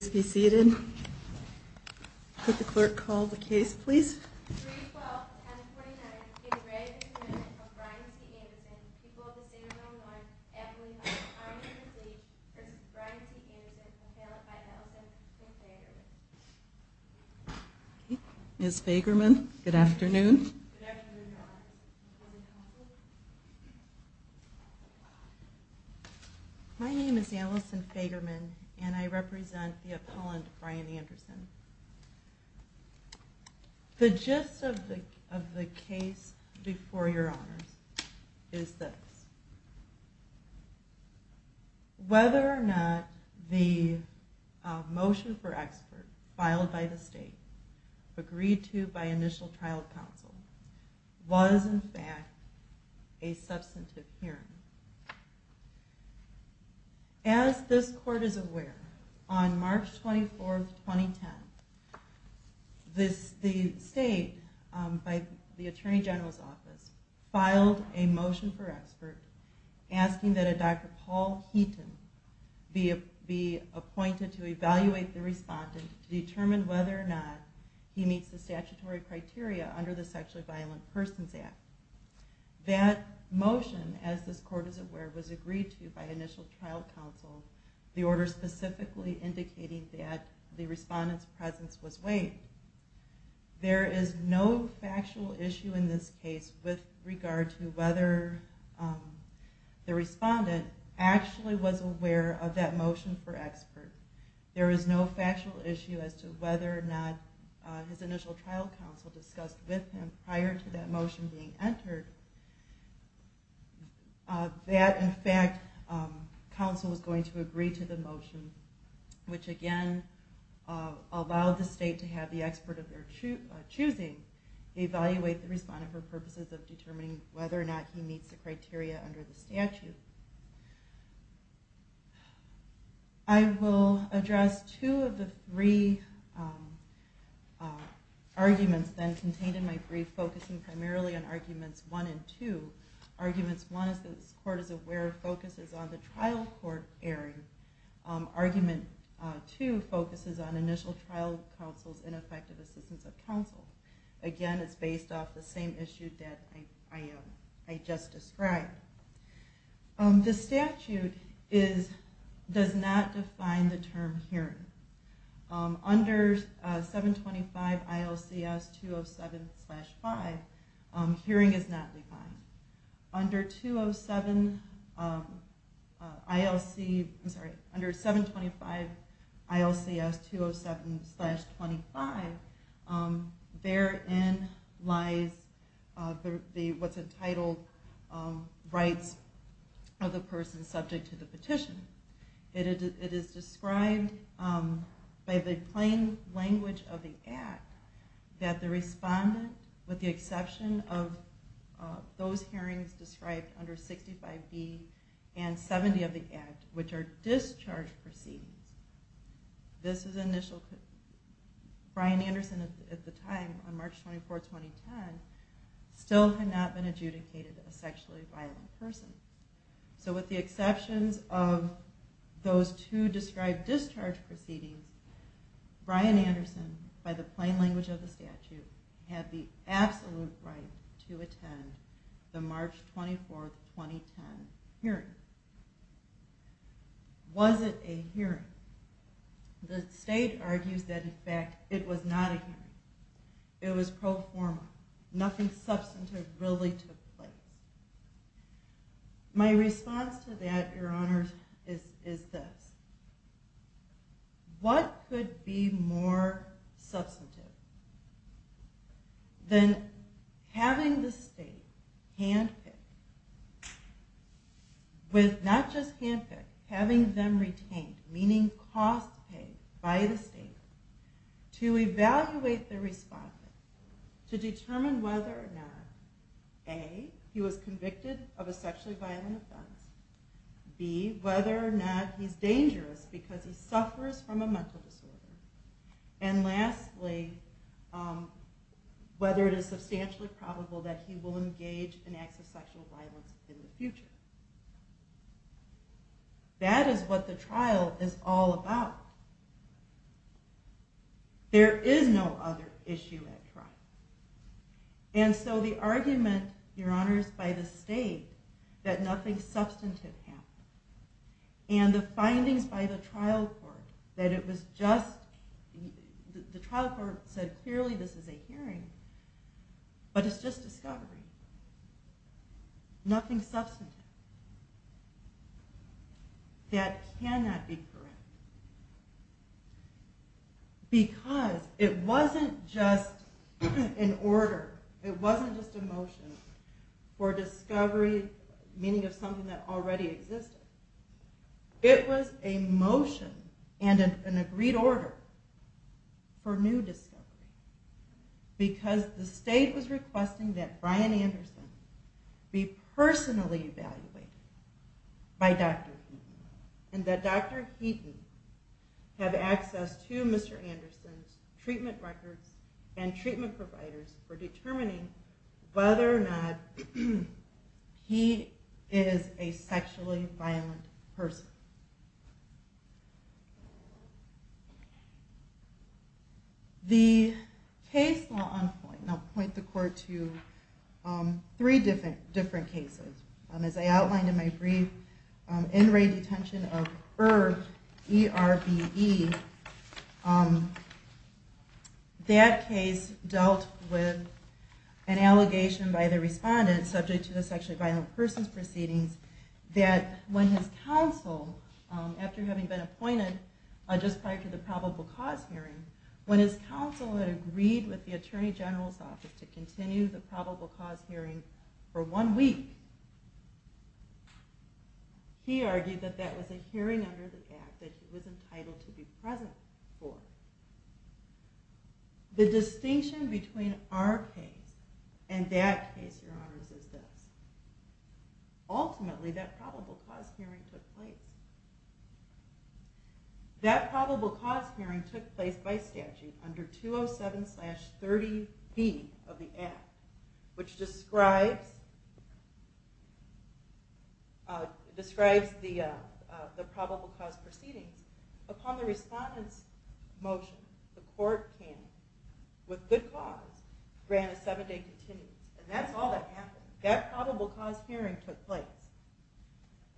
to be seated. Could the clerk called the case, please? Miss Fagerman. Good afternoon. Good afternoon. My name is Allison Fagerman and I represent the appellant Brian Anderson. The gist of the of the case before your honors is this. Whether or not the motion for expert filed by the state agreed to by initial trial counsel was, in fact, a substantive hearing. As this court is aware, on March 24th, 2010, the state, by the Attorney General's office, filed a motion for expert asking that a Dr. Paul Heaton be appointed to evaluate the respondent to determine whether or not he meets the statutory criteria for the trial. Under the Sexually Violent Persons Act. That motion, as this court is aware, was agreed to by initial trial counsel, the order specifically indicating that the respondent's presence was waived. There is no factual issue in this case with regard to whether the respondent actually was aware of that motion for expert. There is no factual issue as to whether or not his initial trial counsel discussed with him prior to that motion being entered. That, in fact, counsel was going to agree to the motion, which again, allowed the state to have the expert of their choosing evaluate the respondent for purposes of determining whether or not he meets the criteria under the statute. I will address two of the three arguments that are contained in my brief, focusing primarily on arguments one and two. Arguments one, as this court is aware, focuses on the trial court area. Argument two focuses on initial trial counsel's ineffective assistance of counsel. Again, it's based off the same issue that I just described. The statute does not define the term hearing. Under 725 ILCS 207-5, hearing is not defined. Under 725 ILCS 207-25, therein lies what's entitled rights of the person subject to the petition. It is described by the plain language of the Act that the respondent, with the exception of those hearings described under 65B and 70 of the Act, which are discharge proceedings. This is initial. Bryan Anderson at the time, on March 24, 2010, still had not been adjudicated a sexually violent person. So with the exceptions of those two described discharge proceedings, Bryan Anderson, by the plain language of the statute, had the absolute right to attend the March 24, 2010 hearing. Was it a hearing? The state argues that in fact it was not a hearing. It was pro forma. Nothing substantive really took place. My response to that, Your Honor, is this. What could be more substantive than having the state handpick, with not just handpick, having them retained, meaning costs paid by the state, to evaluate the respondent to determine whether or not, A, he was convicted of a sexually violent offense, B, whether or not he's dangerous because he suffers from a mental disorder, and lastly, whether it is substantially probable that he will engage in acts of sexual violence in the future. That is what the trial is all about. There is no other issue at trial. And so the argument, Your Honor, is by the state that nothing substantive happened. And the findings by the trial court that it was just, the trial court said clearly this is a hearing, but it's just discovery. Nothing substantive. That cannot be correct. Because it wasn't just an order, it wasn't just a motion for discovery, meaning of something that already existed. It was a motion and an agreed order for new discovery. Because the state was requesting that Brian Anderson be personally evaluated by Dr. Heaton. And that Dr. Heaton have access to Mr. Anderson's treatment records and treatment providers for determining whether or not he is a sexually violent person. The case law on point, and I'll point the court to three different cases. As I outlined in my brief, in-ring detention of Erb, E-R-B-E, that case dealt with an allegation by the respondent subject to the sexually violent person's proceedings that when his counsel, after having been appointed just prior to the probable cause hearing, when his counsel had agreed with the Attorney General's office to continue the probable cause hearing for one week, he argued that that was a hearing under the Act that he was entitled to be present for. The distinction between our case and that case, Your Honors, is this. Ultimately, that probable cause hearing took place. That probable cause hearing took place by statute under 207-30B of the Act, which describes the probable cause proceedings. Upon the respondent's motion, the court came with good cause, granted seven-day continuance. And that's all that happened. That probable cause hearing took place.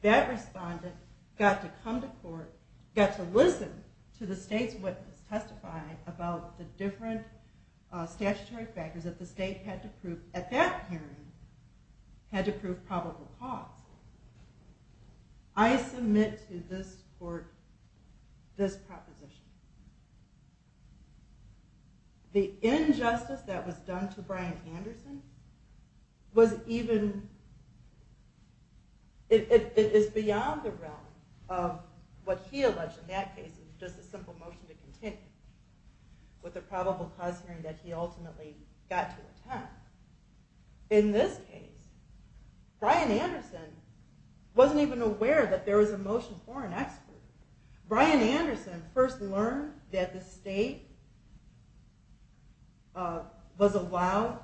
That respondent got to come to court, got to listen to the state's witness testify about the different statutory factors that the state had to prove at that hearing, had to prove probable cause. I submit to this court this proposition. The injustice that was done to Bryan Anderson was even, it is beyond the realm of what he alleged in that case of just a simple motion to continue with the probable cause hearing that he ultimately got to attend. In this case, Bryan Anderson wasn't even aware that there was a motion for an expert. Bryan Anderson first learned that the state was allowed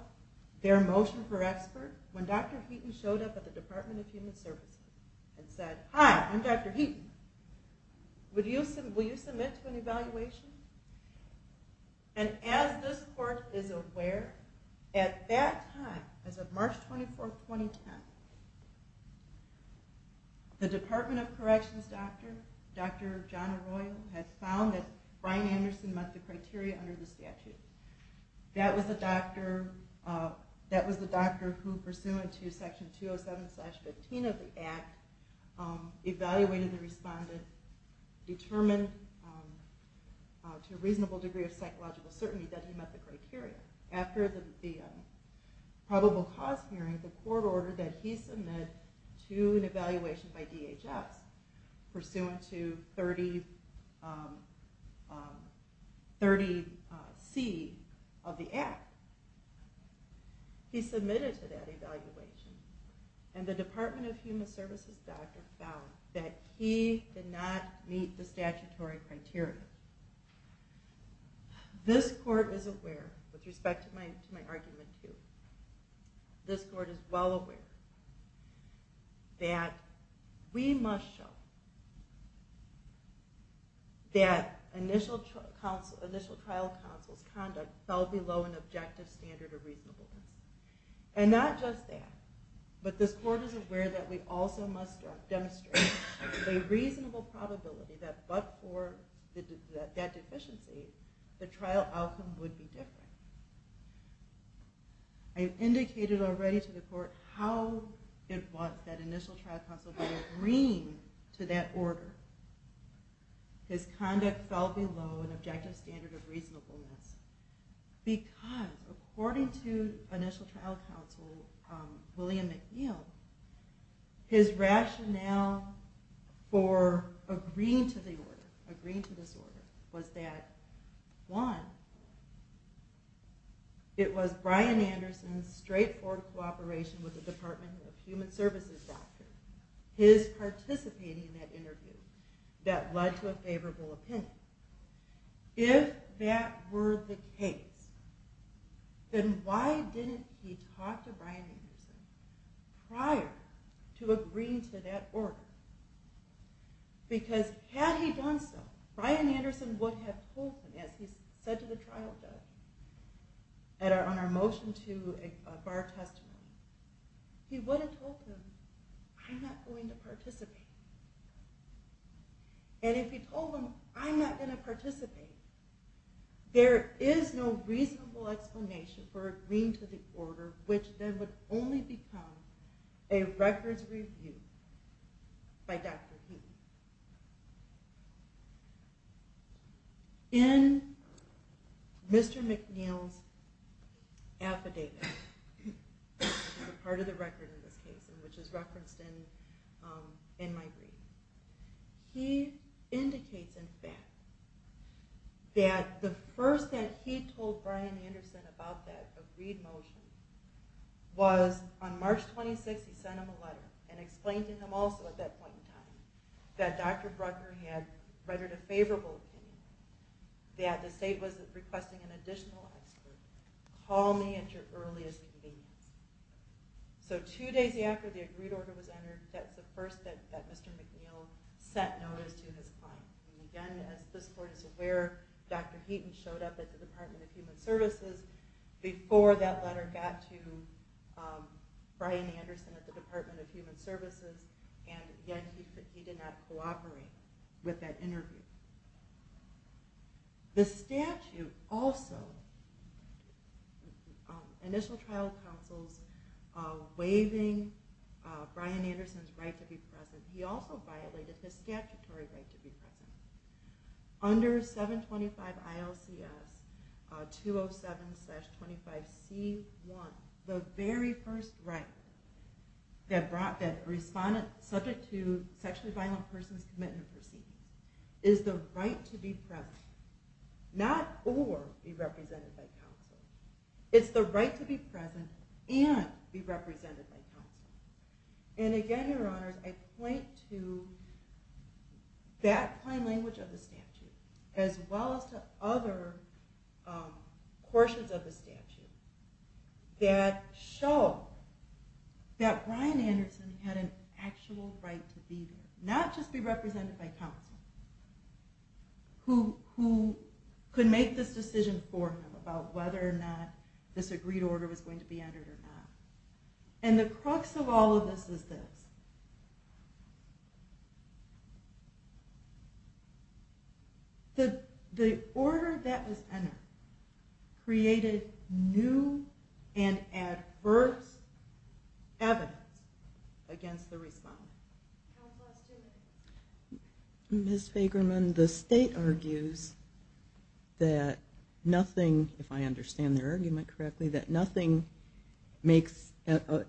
their motion for expert when Dr. Heaton showed up at the Department of Human Services and said, Hi, I'm Dr. Heaton. Will you submit to an evaluation? And as this court is aware, at that time, as of March 24, 2010, the Department of Corrections doctor, Dr. John Arroyo, had found that Bryan Anderson met the criteria under the statute. That was the doctor who, pursuant to Section 207-15 of the Act, evaluated the respondent, determined to a reasonable degree of psychological certainty that he met the criteria. After the probable cause hearing, the court ordered that he submit to an evaluation by DHS, pursuant to 30C of the Act. He submitted to that evaluation, and the Department of Human Services doctor found that he did not meet the statutory criteria. This court is aware, with respect to my argument too, this court is well aware that we must show that initial trial counsel's conduct fell below an objective standard of reasonableness. And not just that, but this court is aware that we also must demonstrate a reasonable probability that, but for that deficiency, the trial outcome would be different. I've indicated already to the court how it was that initial trial counsel would agree to that order. His conduct fell below an objective standard of reasonableness. Because, according to initial trial counsel, William McNeil, his rationale for agreeing to this order was that, one, it was Bryan Anderson's straightforward cooperation with the Department of Human Services doctor, his participating in that interview, that led to a favorable opinion. If that were the case, then why didn't he talk to Bryan Anderson prior to agreeing to that order? Because had he done so, Bryan Anderson would have told him, as he said to the trial judge on our motion to bar testimony, he would have told him, I'm not going to participate. And if he told him, I'm not going to participate, there is no reasonable explanation for agreeing to the order, which then would only become a records review by Dr. Heaton. In Mr. McNeil's affidavit, part of the record in this case, which is referenced in my reading, he indicates, in fact, that the first that he told Bryan Anderson about that agreed motion was on March 26th, he sent him a letter and explained to him also at that point in time that Dr. Bruckner had readied a favorable opinion, that the state was requesting an additional expert. Call me at your earliest convenience. So two days after the agreed order was entered, that was the first that Mr. McNeil sent notice to his client. And again, as this court is aware, Dr. Heaton showed up at the Department of Human Services before that letter got to Bryan Anderson at the Department of Human Services, and yet he did not cooperate with that interview. The statute also, initial trial counsels waiving Bryan Anderson's right to be present, he also violated his statutory right to be present. Under 725 ILCS 207-25C1, the very first right that respondent, subject to sexually violent persons commitment proceedings, is the right to be present, not or be represented by counsel. It's the right to be present and be represented by counsel. And again, your honors, I point to that plain language of the statute, as well as to other portions of the statute, that show that Bryan Anderson had an actual right to be there, not just be represented by counsel, who could make this decision for him about whether or not this agreed order was going to be entered or not. And the crux of all of this is this. The order that was entered created new and adverse evidence against the respondent. Ms. Fagerman, the state argues that nothing, if I understand their argument correctly, that nothing makes,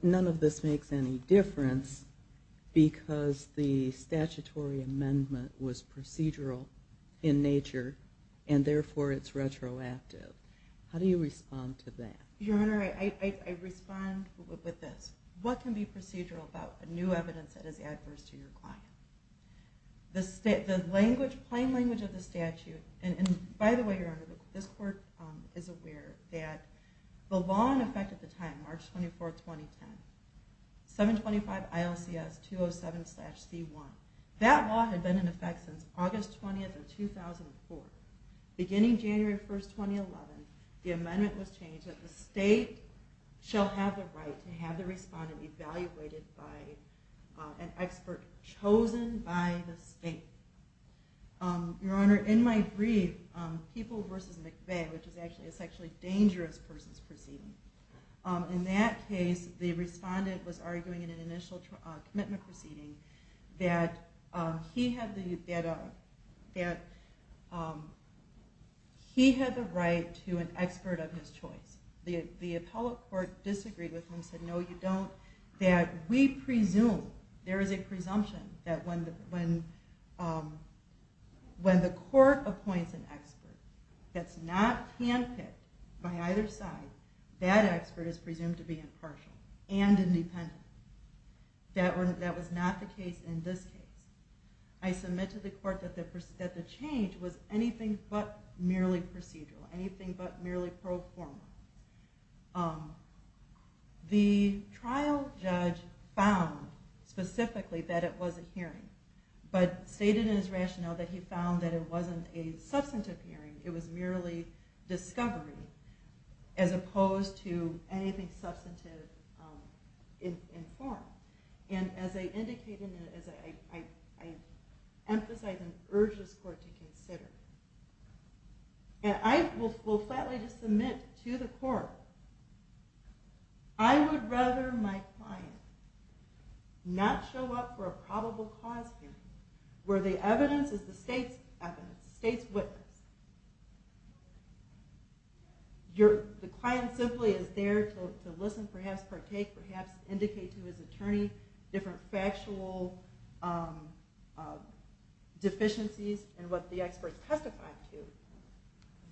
none of this makes any difference, because the statutory amendment was procedural in nature, and therefore it's retroactive. How do you respond to that? Your honor, I respond with this. What can be procedural about new evidence that is adverse to your client? The plain language of the statute, and by the way, your honor, this court is aware that the law in effect at the time, March 24th, 2010, 725 ILCS 207-C1, that law had been in effect since August 20th of 2004. Beginning January 1st, 2011, the amendment was changed, that the state shall have the right to have the respondent evaluated by an expert chosen by the state. Your honor, in my brief, People v. McVeigh, which is actually a sexually dangerous person's proceeding, in that case, the respondent was arguing in an initial commitment proceeding that he had the right to an expert of his choice. The appellate court disagreed with him, said no you don't, that we presume, there is a presumption that when the court appoints an expert that's not handpicked by either side, that expert is presumed to be impartial and independent. That was not the case in this case. I submit to the court that the change was anything but merely procedural, anything but merely pro forma. The trial judge found specifically that it was a hearing, but stated in his rationale that he found that it wasn't a substantive hearing, it was merely discovery, as opposed to anything substantive in form. And as I indicated, and as I emphasize and urge this court to consider, and I will flatly just submit to the court, I would rather my client not show up for a probable cause hearing where the evidence is the state's evidence, the state's witness. The client simply is there to listen, perhaps partake, perhaps indicate to his attorney different factual deficiencies in what the expert testified to,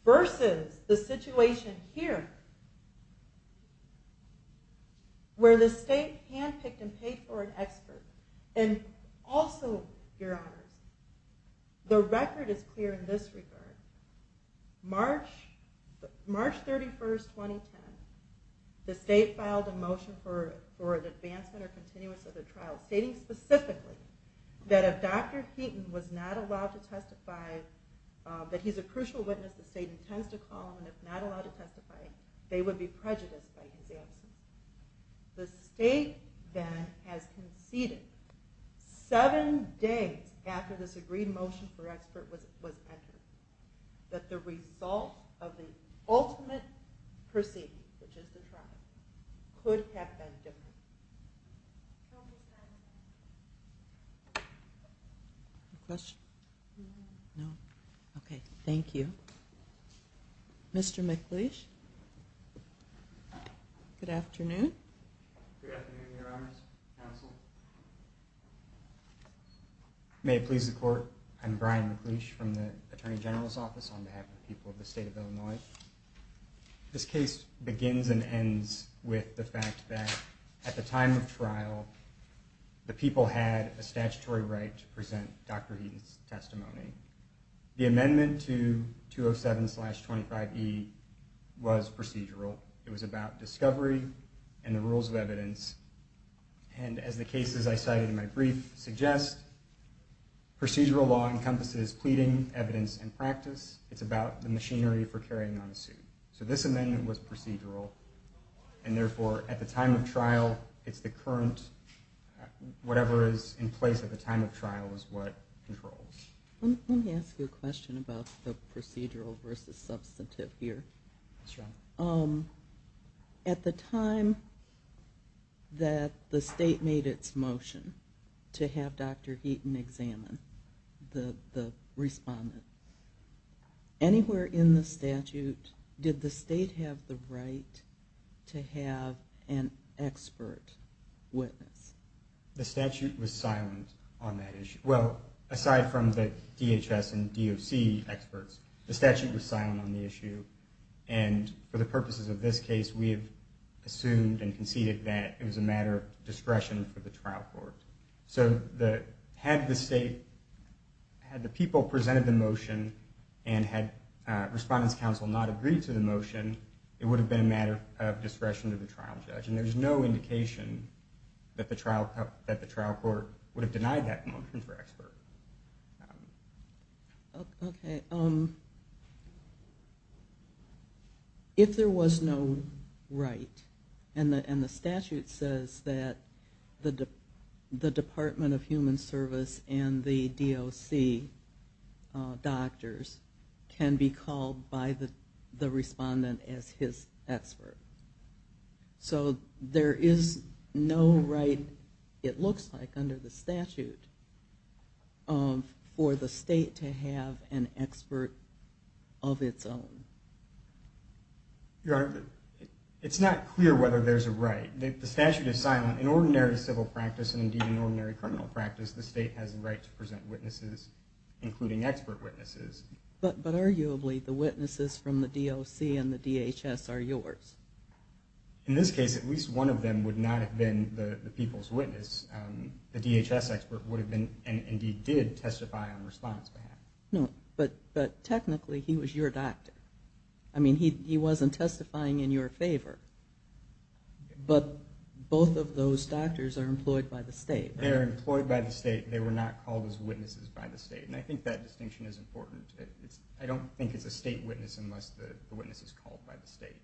versus the situation here, where the state handpicked and paid for an expert. And also, your honors, the record is clear in this regard. March 31st, 2010, the state filed a motion for an advancement or continuous of the trial, stating specifically that if Dr. Heaton was not allowed to testify, that he's a crucial witness, the state intends to call him, and if not allowed to testify, they would be prejudiced by his absence. The state then has conceded seven days after this agreed motion for expert was entered. That the result of the ultimate proceeding, which is the trial, could have been different. Any questions? No? Okay, thank you. Mr. McLeish, good afternoon. Good afternoon, your honors, counsel. May it please the court, I'm Brian McLeish from the Attorney General's Office on behalf of the people of the state of Illinois. This case begins and ends with the fact that at the time of trial, the people had a statutory right to present Dr. Heaton's testimony. The amendment to 207-25E was procedural. It was about discovery and the rules of evidence. And as the cases I cited in my brief suggest, procedural law encompasses pleading, evidence, and practice. It's about the machinery for carrying on a suit. So this amendment was procedural, and therefore at the time of trial, it's the current, whatever is in place at the time of trial is what controls. Let me ask you a question about the procedural versus substantive here. Yes, Your Honor. At the time that the state made its motion to have Dr. Heaton examine the respondent, anywhere in the statute did the state have the right to have an expert witness? The statute was silent on that issue. Well, aside from the DHS and DOC experts, the statute was silent on the issue. And for the purposes of this case, we have assumed and conceded that it was a matter of discretion for the trial court. So had the state, had the people presented the motion and had Respondent's Counsel not agreed to the motion, it would have been a matter of discretion to the trial judge. And there's no indication that the trial court would have denied that motion for expert. Okay. If there was no right, and the statute says that the Department of Human Service and the DOC doctors can be called by the respondent as his expert. So there is no right, it looks like, under the statute. For the state to have an expert of its own. Your Honor, it's not clear whether there's a right. The statute is silent. In ordinary civil practice, and indeed in ordinary criminal practice, the state has the right to present witnesses, including expert witnesses. But arguably, the witnesses from the DOC and the DHS are yours. In this case, at least one of them would not have been the people's witness. The DHS expert would have been, and indeed did testify on Respondent's behalf. No, but technically he was your doctor. I mean, he wasn't testifying in your favor. But both of those doctors are employed by the state. They are employed by the state. They were not called as witnesses by the state. And I think that distinction is important. I don't think it's a state witness unless the witness is called by the state.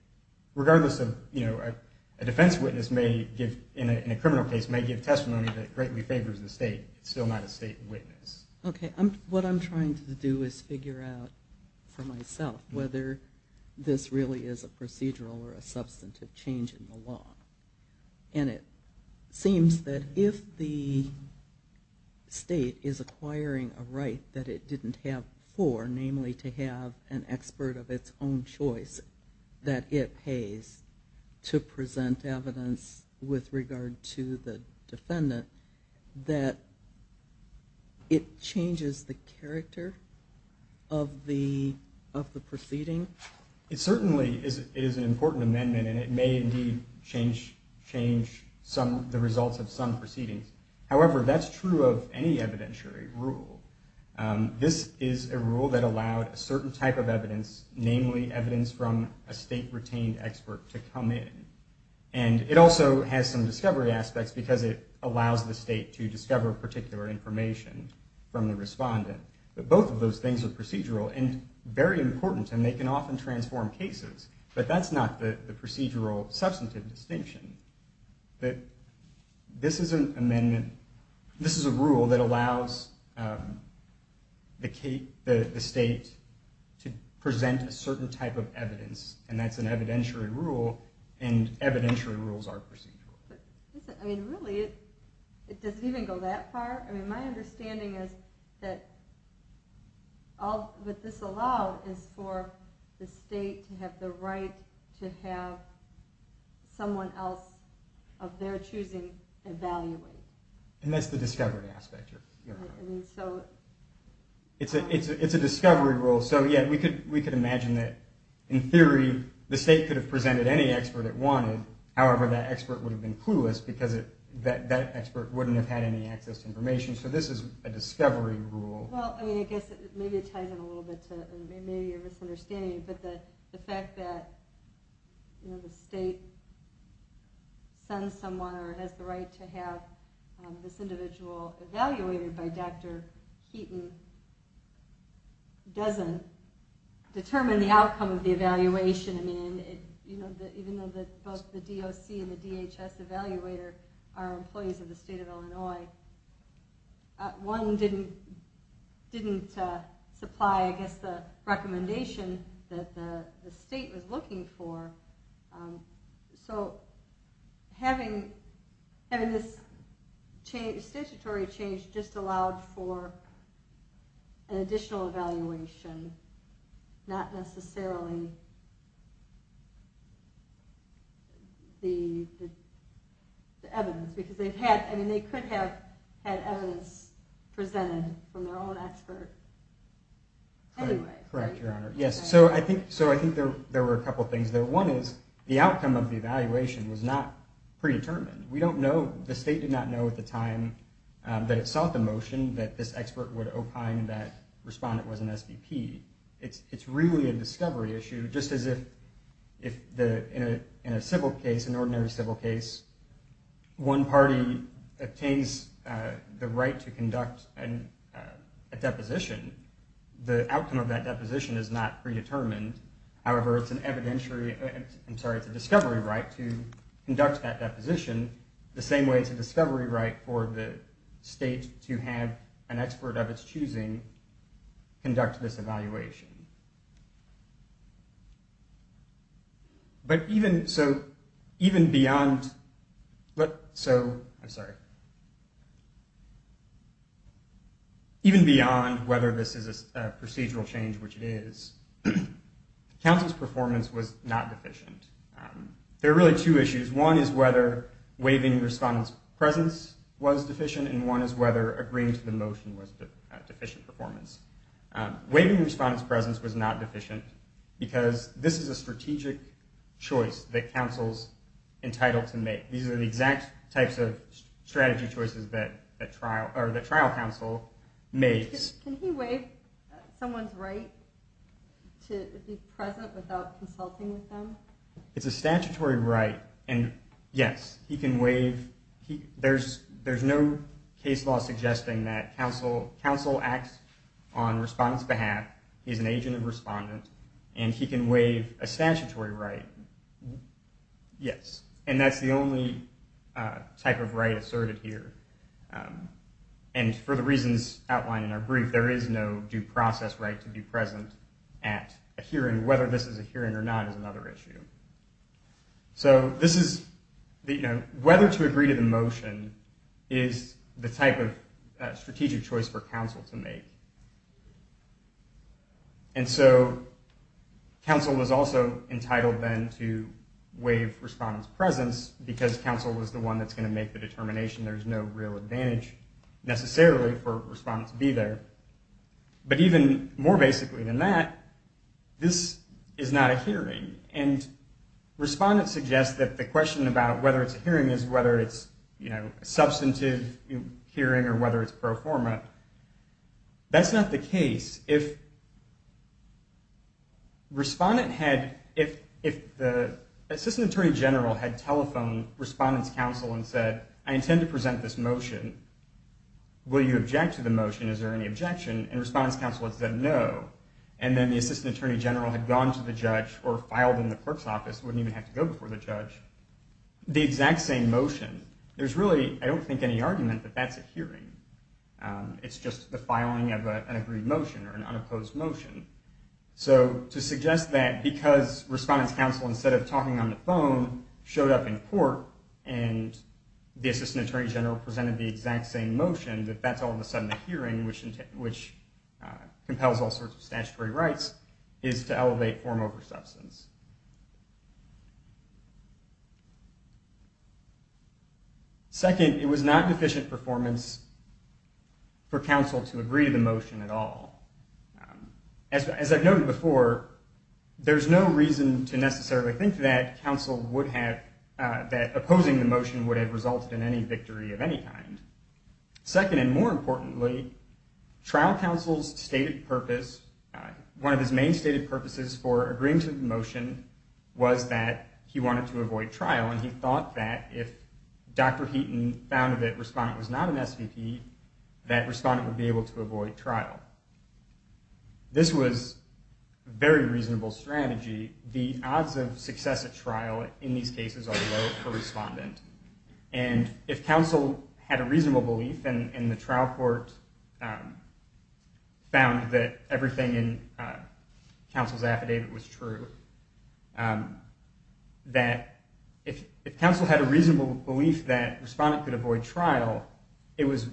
Regardless of, you know, a defense witness may give, in a criminal case, may give testimony that greatly favors the state. It's still not a state witness. Okay, what I'm trying to do is figure out for myself whether this really is a procedural or a substantive change in the law. And it seems that if the state is acquiring a right that it didn't have before, namely to have an expert of its own choice that it pays to present evidence with regard to the defendant, that it changes the character of the proceeding? It certainly is an important amendment, and it may indeed change the results of some proceedings. However, that's true of any evidentiary rule. It allows, namely, evidence from a state-retained expert to come in. And it also has some discovery aspects because it allows the state to discover particular information from the respondent. But both of those things are procedural and very important, and they can often transform cases. But that's not the procedural substantive distinction. This is a rule that allows the state to present a certain type of evidence, and that's an evidentiary rule, and evidentiary rules are procedural. Really? It doesn't even go that far? My understanding is that all that this allows is for the state to have the right to have someone else of their choosing evaluate. And that's the discovery aspect. I mean, so... It's a discovery rule. So, yeah, we could imagine that, in theory, the state could have presented any expert it wanted. However, that expert would have been clueless because that expert wouldn't have had any access to information. So this is a discovery rule. Well, I mean, I guess maybe it ties in a little bit to maybe your misunderstanding, but the fact that, you know, the state sends someone or has the right to have this individual evaluated by Dr. Heaton doesn't determine the outcome of the evaluation. I mean, even though both the DOC and the DHS evaluator are employees of the state of Illinois, one didn't supply, I guess, the recommendation that the state was looking for. So having this statutory change just allowed for an additional evaluation, not necessarily the evidence. Because they could have had evidence presented from their own expert. Correct, Your Honor. Yes, so I think there were a couple of things there. One is, the outcome of the evaluation was not predetermined. We don't know, the state did not know at the time that it sought the motion that this expert would opine that the respondent was an SBP. It's really a discovery issue, just as if in a civil case, an ordinary civil case, one party obtains the right to conduct a deposition. The outcome of that deposition is not predetermined. However, it's an evidentiary, I'm sorry, it's a discovery right to conduct that deposition the same way it's a discovery right for the state to have an expert of its choosing conduct this evaluation. But even, so, even beyond, so, I'm sorry. Even beyond whether this is a procedural change, which it is, counsel's performance was not deficient. There are really two issues. One is whether waiving the respondent's presence was deficient, and one is whether agreeing to the motion was a deficient performance. Waiving the respondent's presence was not deficient, because this is a strategic choice that counsel's entitled to make. These are the exact types of strategy choices that the trial counsel makes. Can he waive someone's right to be present without consulting with them? It's a statutory right, and yes, he can waive, there's no case law suggesting that counsel acts on respondent's behalf, he's an agent of respondent, and he can waive a statutory right, yes. And that's the only type of right asserted here. And for the reasons outlined in our brief, there is no due process right to be present at a hearing, whether this is a hearing or not is another issue. So this is, you know, whether to agree to the motion is the type of strategic choice for counsel to make. And so counsel is also entitled then to waive respondent's presence, because counsel is the one that's going to make the determination, there's no real advantage necessarily for respondent to be there. But even more basically than that, this is not a hearing, and respondent suggests that the question about whether it's a hearing is whether it's, you know, substantive hearing or whether it's pro forma. That's not the case. If respondent had, if the assistant attorney general had telephoned respondent's counsel and said, I intend to present this motion, will you object to the motion? Is there any objection? And respondent's counsel had said no. And then the assistant attorney general had gone to the judge or filed in the clerk's office, wouldn't even have to go before the judge. The exact same motion, there's really, I don't think any argument that that's a hearing. It's just the filing of an agreed motion or an unopposed motion. So to suggest that because respondent's counsel, instead of talking on the phone, showed up in court, and the assistant attorney general presented the exact same motion, that that's all of a sudden the hearing, which compels all sorts of statutory rights, is to elevate form over substance. Second, it was not an efficient performance for counsel to agree to the motion at all. As I've noted before, there's no reason to necessarily think that counsel would have, that opposing the motion would have resulted in any victory of any kind. Second, and more importantly, trial counsel's stated purpose, one of his main stated purposes for agreeing to the motion was that he wanted to avoid trial. And he thought that if Dr. Heaton found that respondent was not an SVP, that respondent would be able to avoid trial. This was a very reasonable strategy. The odds of success at trial in these cases are low for respondent. And if counsel had a reasonable belief, and the trial court found that everything in counsel's affidavit was true, that if counsel had a reasonable belief that respondent could avoid trial, it was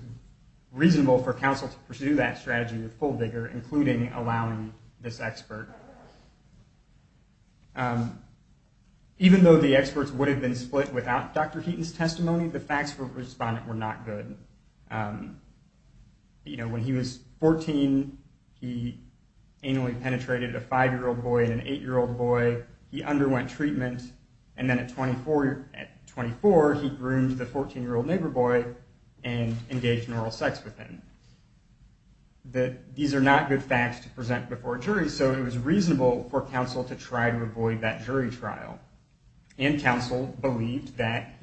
reasonable for counsel to pursue that strategy with full vigor, including allowing this expert. Even though the experts would have been split without Dr. Heaton's testimony, the facts for respondent were not good. You know, when he was 14, he anally penetrated a 5-year-old boy and an 8-year-old boy, he underwent treatment, and then at 24, he groomed the 14-year-old neighbor boy and engaged in oral sex with him. These are not good facts to present before a jury, so it was reasonable for counsel to try to avoid that jury trial. And counsel believed that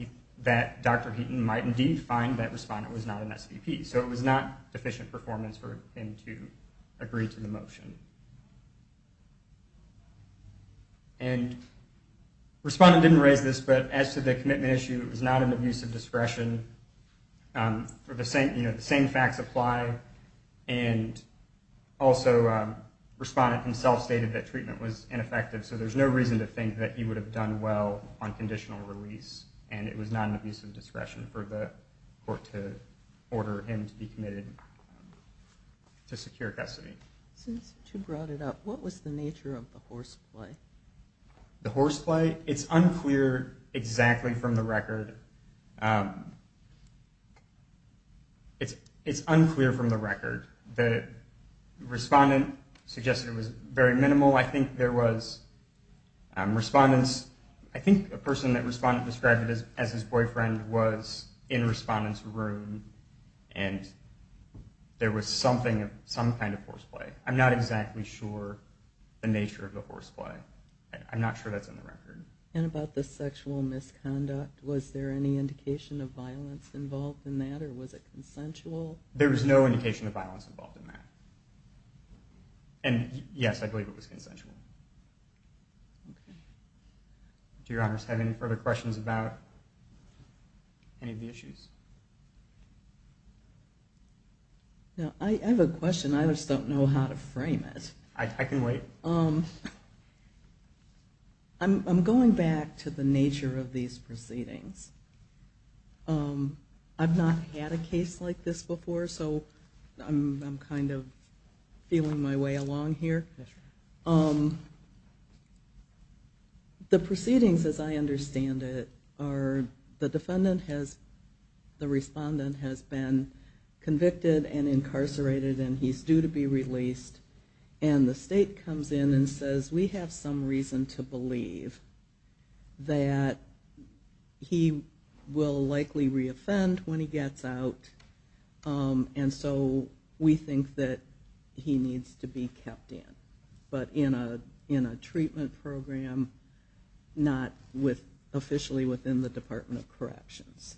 Dr. Heaton might indeed find that respondent was not an SVP. So it was not deficient performance for him to agree to the motion. And respondent didn't raise this, but as to the commitment issue, it was not an abuse of discretion. The same facts apply. And also, respondent himself stated that treatment was ineffective, so there's no reason to think that he would have done well on conditional release, and it was not an abuse of discretion for the court to order him to be committed to secure custody. Since you brought it up, what was the nature of the horseplay? The horseplay? It's unclear exactly from the record. The respondent suggested it was very minimal. I think there was a person that respondent described as his boyfriend was in respondent's room, and there was some kind of horseplay. I'm not exactly sure the nature of the horseplay. I'm not sure that's in the record. And about the sexual misconduct, was there any evidence or any indication of violence involved in that, or was it consensual? There was no indication of violence involved in that. And yes, I believe it was consensual. Okay. Do your honors have any further questions about any of the issues? No, I have a question. I just don't know how to frame it. I can wait. I'm going back to the nature of these proceedings. I've not had a case like this before, so I'm kind of feeling my way along here. The proceedings, as I understand it, are the defendant has, the respondent has been convicted and incarcerated and he's due to be released, and the state comes in and says we have some reason to believe that he will likely reoffend when he gets out, and so we think that he needs to be kept in, but in a treatment program, not officially within the Department of Corrections.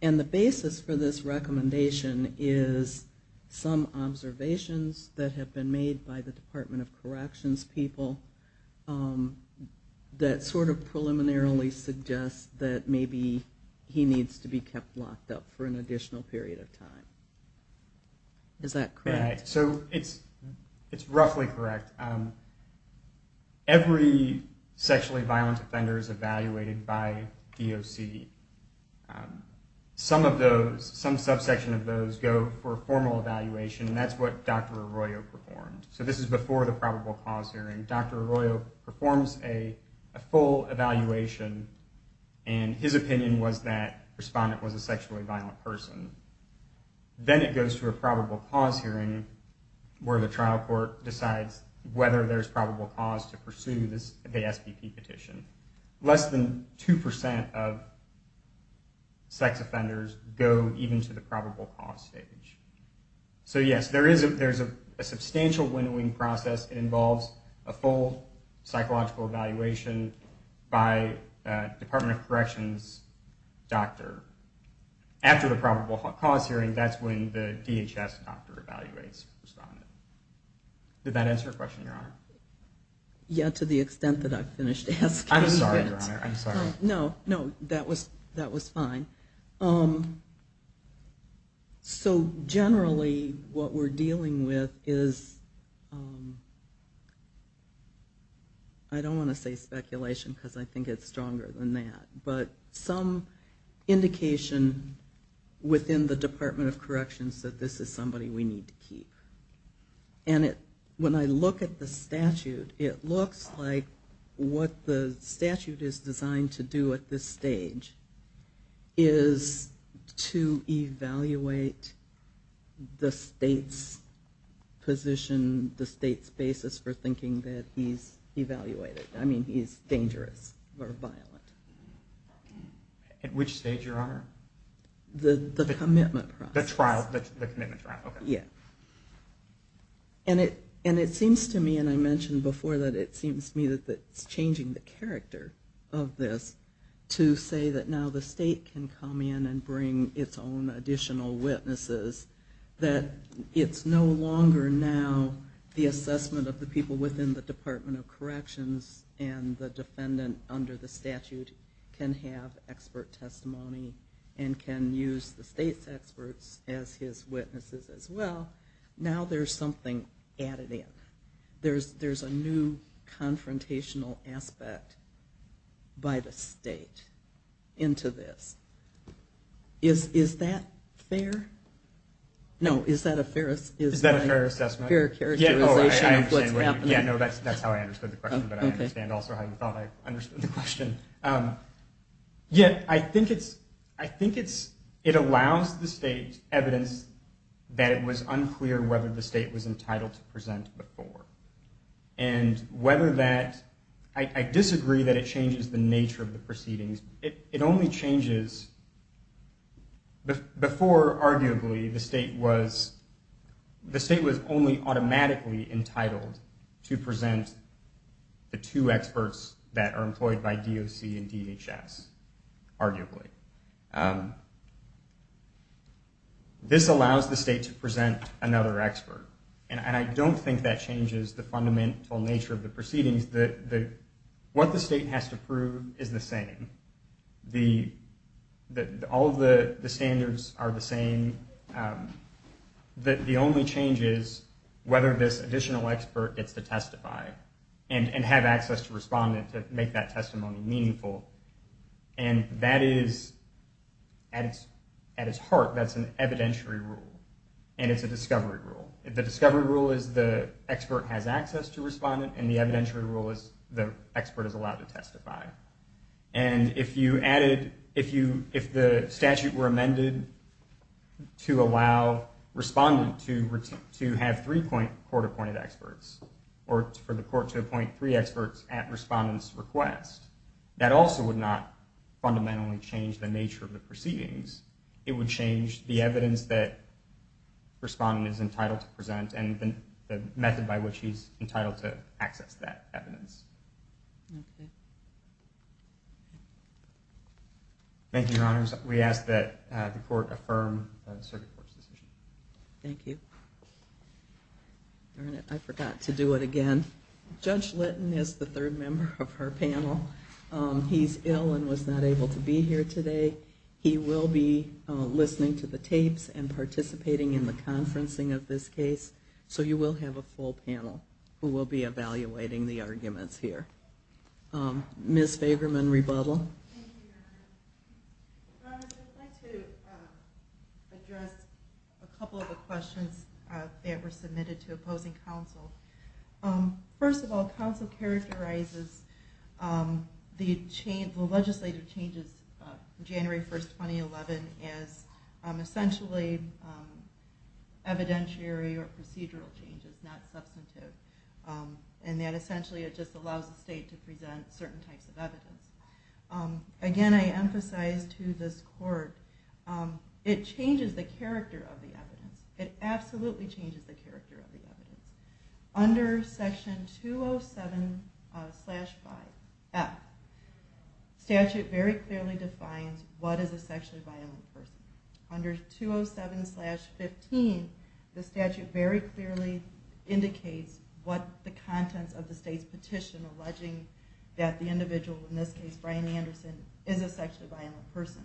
And the basis for this recommendation is some observations that have been made by the Department of Corrections people that sort of preliminarily suggest that maybe he needs to be kept locked up for an additional period of time. Is that correct? So it's roughly correct. Every sexually violent offender is evaluated by DOC. Some of those, some subsection of those, go for a formal evaluation, and that's what Dr. Arroyo performed. So this is before the probable cause hearing. Dr. Arroyo performs a full evaluation, and his opinion was that the respondent was a sexually violent person. Then it goes to a probable cause hearing where the trial court decides whether there's probable cause to pursue the SBP petition. Less than 2% of sex offenders go even to the probable cause stage. So yes, there is a substantial winnowing process. It involves a full psychological evaluation by Department of Corrections doctor. After the probable cause hearing, that's when the DHS doctor evaluates the respondent. Did that answer your question, Your Honor? Yeah, to the extent that I finished asking. I'm sorry, Your Honor. I'm sorry. No, no, that was fine. Generally, what we're dealing with is, I don't want to say speculation, because I think it's stronger than that, but some indication within the Department of Corrections that this is somebody we need to keep. And when I look at the statute, it looks like what the statute is designed to do at this stage is to evaluate the state's position, the state's basis for thinking that he's evaluated. I mean, he's dangerous or violent. At which stage, Your Honor? The commitment process. The trial, the commitment trial, okay. Yeah. And it seems to me, and I mentioned before that, it seems to me that it's changing the character of this to say that now the state can come in and bring its own additional witnesses. That it's no longer now the assessment of the people within the Department of Corrections and the defendant under the statute can have expert testimony and can use the state's experts as his witnesses as well. Now there's something added in. There's a new confrontational aspect by the state. Into this. Is that fair? No, is that a fair assessment? Is that a fair characterization of what's happening? Yeah, no, that's how I understood the question. But I understand also how you thought I understood the question. Yet, I think it's, I think it's, it allows the state evidence that it was unclear whether the state was entitled to present before. And whether that, I disagree that it changes the nature of the proceedings. It only changes, before arguably the state was, the state was only automatically entitled to present the two experts that are employed by DOC and DHS. Arguably. This allows the state to present another expert. And I don't think that changes the fundamental nature of the proceedings. What the state has to prove is the same. All of the standards are the same. The only change is whether this additional expert gets to testify. And have access to respondent to make that testimony meaningful. And that is, at its heart, that's an evidentiary rule. And it's a discovery rule. The discovery rule is the expert has access to respondent and the evidentiary rule is the expert is allowed to testify. And if you added, if you, if the statute were amended to allow respondent to, to have three court-appointed experts, or for the court to appoint three experts at respondent's request, that also would not fundamentally change the nature of the proceedings. It would change the evidence that respondent is entitled to present and the method by which he's entitled to access that evidence. Thank you, Your Honors. We ask that the court affirm the circuit court's decision. Thank you. Darn it, I forgot to do it again. Judge Litton is the third member of our panel. He's ill and was not able to be here today. He will be listening to the tapes and participating in the conferencing of this case. So you will have a full panel who will be evaluating the arguments here. Ms. Fagerman, rebuttal. Thank you, Your Honor. Your Honor, I'd like to address a couple of the questions that were submitted to opposing counsel. First of all, counsel characterizes the legislative changes of January 1st, 2011 as essentially evidentiary or procedural changes, not substantive. And that essentially it just allows the state to present certain types of evidence. Again, I emphasize to this court, it changes the character of the evidence. It absolutely changes the character of the evidence. Under Section 207-F, statute very clearly defines what is a sexually violent person. Under 207-15, the statute very clearly indicates what the contents of the state's petition alleging that the individual, in this case Brian Anderson, is a sexually violent person.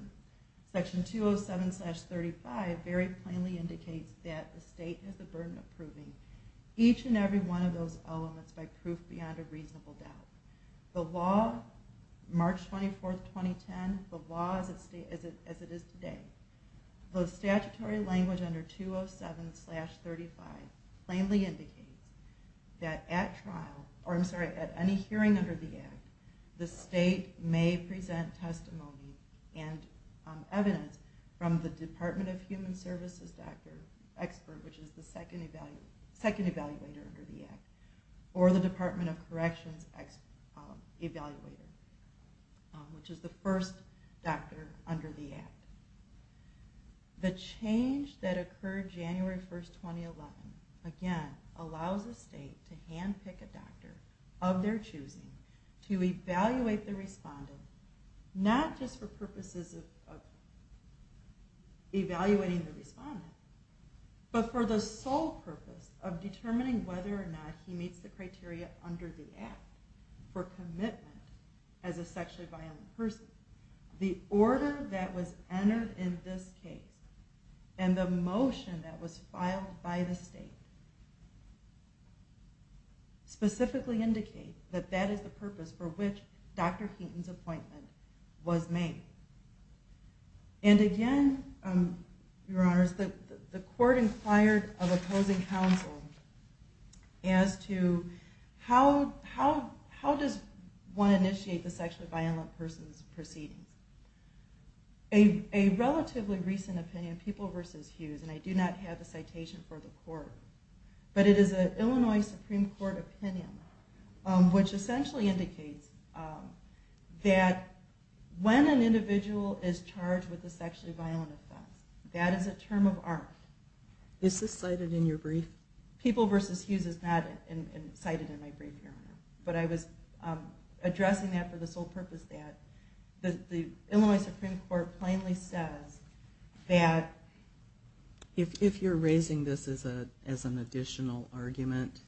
Section 207-35 very plainly indicates that the state has the burden of proving each and every one of those elements by proof beyond a reasonable doubt. The law, March 24th, 2010, the law as it is today, the statutory language under 207-35 plainly indicates that at trial, or I'm sorry, at any hearing under the Act, the state may present testimony and evidence from the Department of Human Services expert, which is the second evaluator under the Act, or the Department of Corrections evaluator, which is the first doctor under the Act. The change that occurred January 1st, 2011, again, allows the state to handpick a doctor of their choosing to evaluate the respondent, not just for purposes of evaluating the respondent, but for the sole purpose of determining whether or not he meets the criteria under the Act for commitment as a sexually violent person. The order that was entered in this case and the motion that was filed by the state specifically indicate that that is the purpose for which Dr. Keaton's appointment was made. And again, Your Honors, the court inquired of opposing counsel as to how does one initiate the sexually violent person's proceedings. A relatively recent opinion, People v. Hughes, and I do not have the citation for the court, but it is an Illinois Supreme Court opinion, which essentially indicates that when an individual is charged with a sexually violent offense, that is a term of art. Is this cited in your brief? People v. Hughes is not cited in my brief, Your Honor, but I was addressing that for the sole purpose that the Illinois Supreme Court plainly says that if you're raising this as an additional argument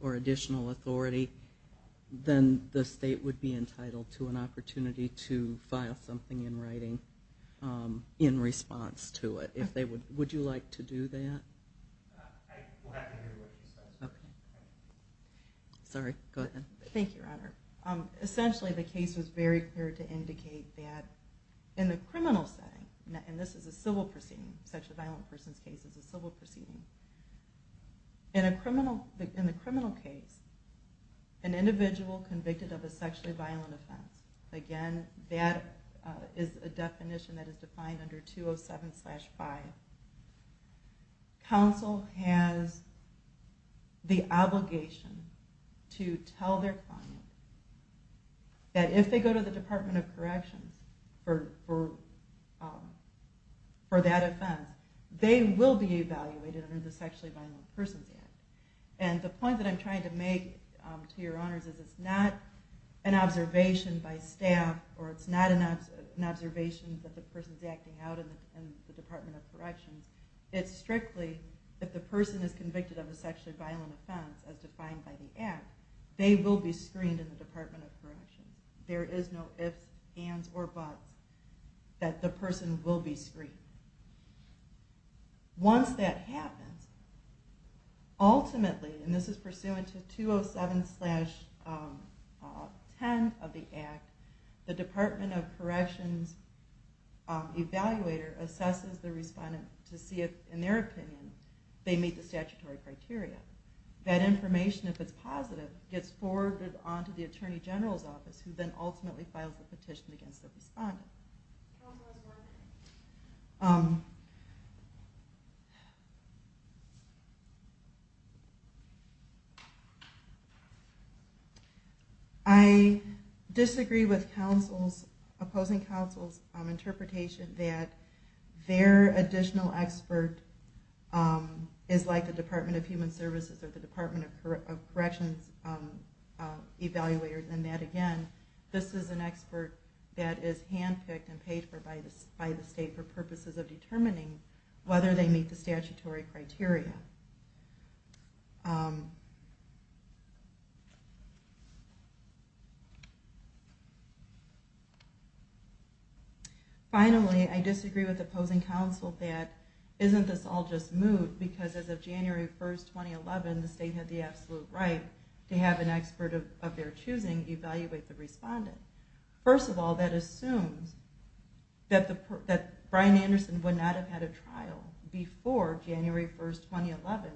or additional authority, then the state would be entitled to an opportunity to file something in writing in response to it. Would you like to do that? I will have to hear what she says. Sorry, go ahead. Thank you, Your Honor. Essentially, the case was very clear to indicate that in the criminal setting, and this is a civil proceeding, a sexually violent person's case is a civil proceeding, in the criminal case, an individual convicted of a sexually violent offense, again, that is a definition that is defined under 207-5. Counsel has the obligation to tell their client that if they go to the Department of Corrections for that offense, they will be evaluated under the Sexually Violent Persons Act. And the point that I'm trying to make to Your Honors is it's not an observation by staff or it's not an observation that the person's acting out in the Department of Corrections. It's strictly if the person is convicted of a sexually violent offense as defined by the Act, they will be screened in the Department of Corrections. There is no ifs, ands, or buts that the person will be screened. Once that happens, ultimately, and this is pursuant to 207-10 of the Act, the Department of Corrections evaluator assesses the respondent to see if, in their opinion, they meet the statutory criteria. That information, if it's positive, gets forwarded on to the Attorney General's Office who then ultimately files a petition against the respondent. I disagree with opposing counsel's interpretation that their additional expert is like the Department of Human Services or the Department of Corrections evaluator in that, again, this is an expert that is handpicked and paid for by the state for purposes of determining whether they meet the statutory criteria. Finally, I disagree with opposing counsel that isn't this all just mood because as of January 1, 2011, the state had the absolute right to have an expert of their choosing evaluate the respondent. First of all, that assumes that Brian Anderson would not have had a trial before January 1, 2011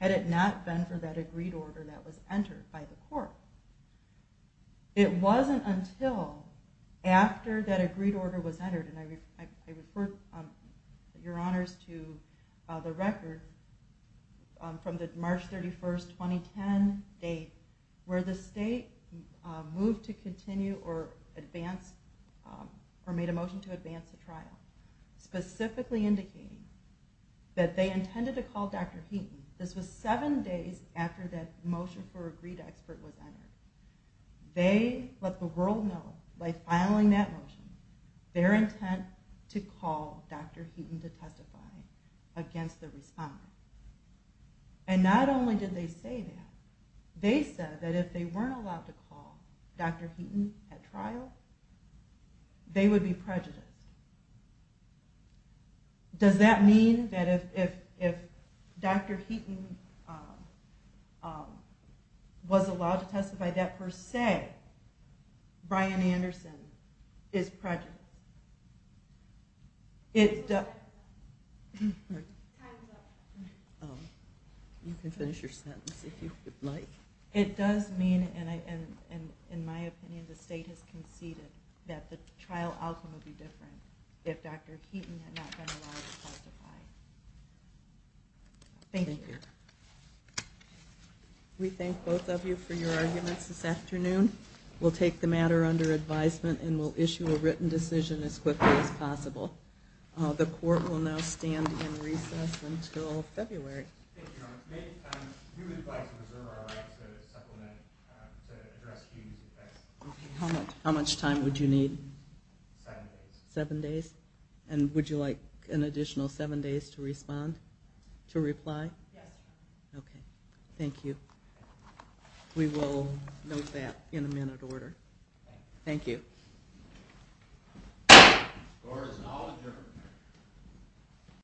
had it not been for that agreed order that was entered by the court. It wasn't until after that agreed order was entered, and I refer your honors to the record from the March 31, 2010 date where the state moved to continue or made a motion to advance the trial specifically indicating that they intended to call Dr. Heaton. This was seven days after that motion for agreed expert was entered. They let the world know by filing that motion their intent to call Dr. Heaton to testify against the respondent. And not only did they say that, they said that if they weren't allowed to call, Dr. Heaton at trial, they would be prejudiced. Does that mean that if Dr. Heaton was allowed to testify that per se, Brian Anderson is prejudiced? It does... Time's up. You can finish your sentence if you would like. It does mean, in my opinion, the state has conceded that the trial outcome would be different if Dr. Heaton had not been allowed to testify. Thank you. We thank both of you for your arguments this afternoon. We'll take the matter under advisement and we'll issue a written decision as quickly as possible. The court will now stand in recess until February. How much time would you need? Seven days. And would you like an additional seven days to respond? To reply? Yes. Thank you. We will note that in a minute order. Thank you.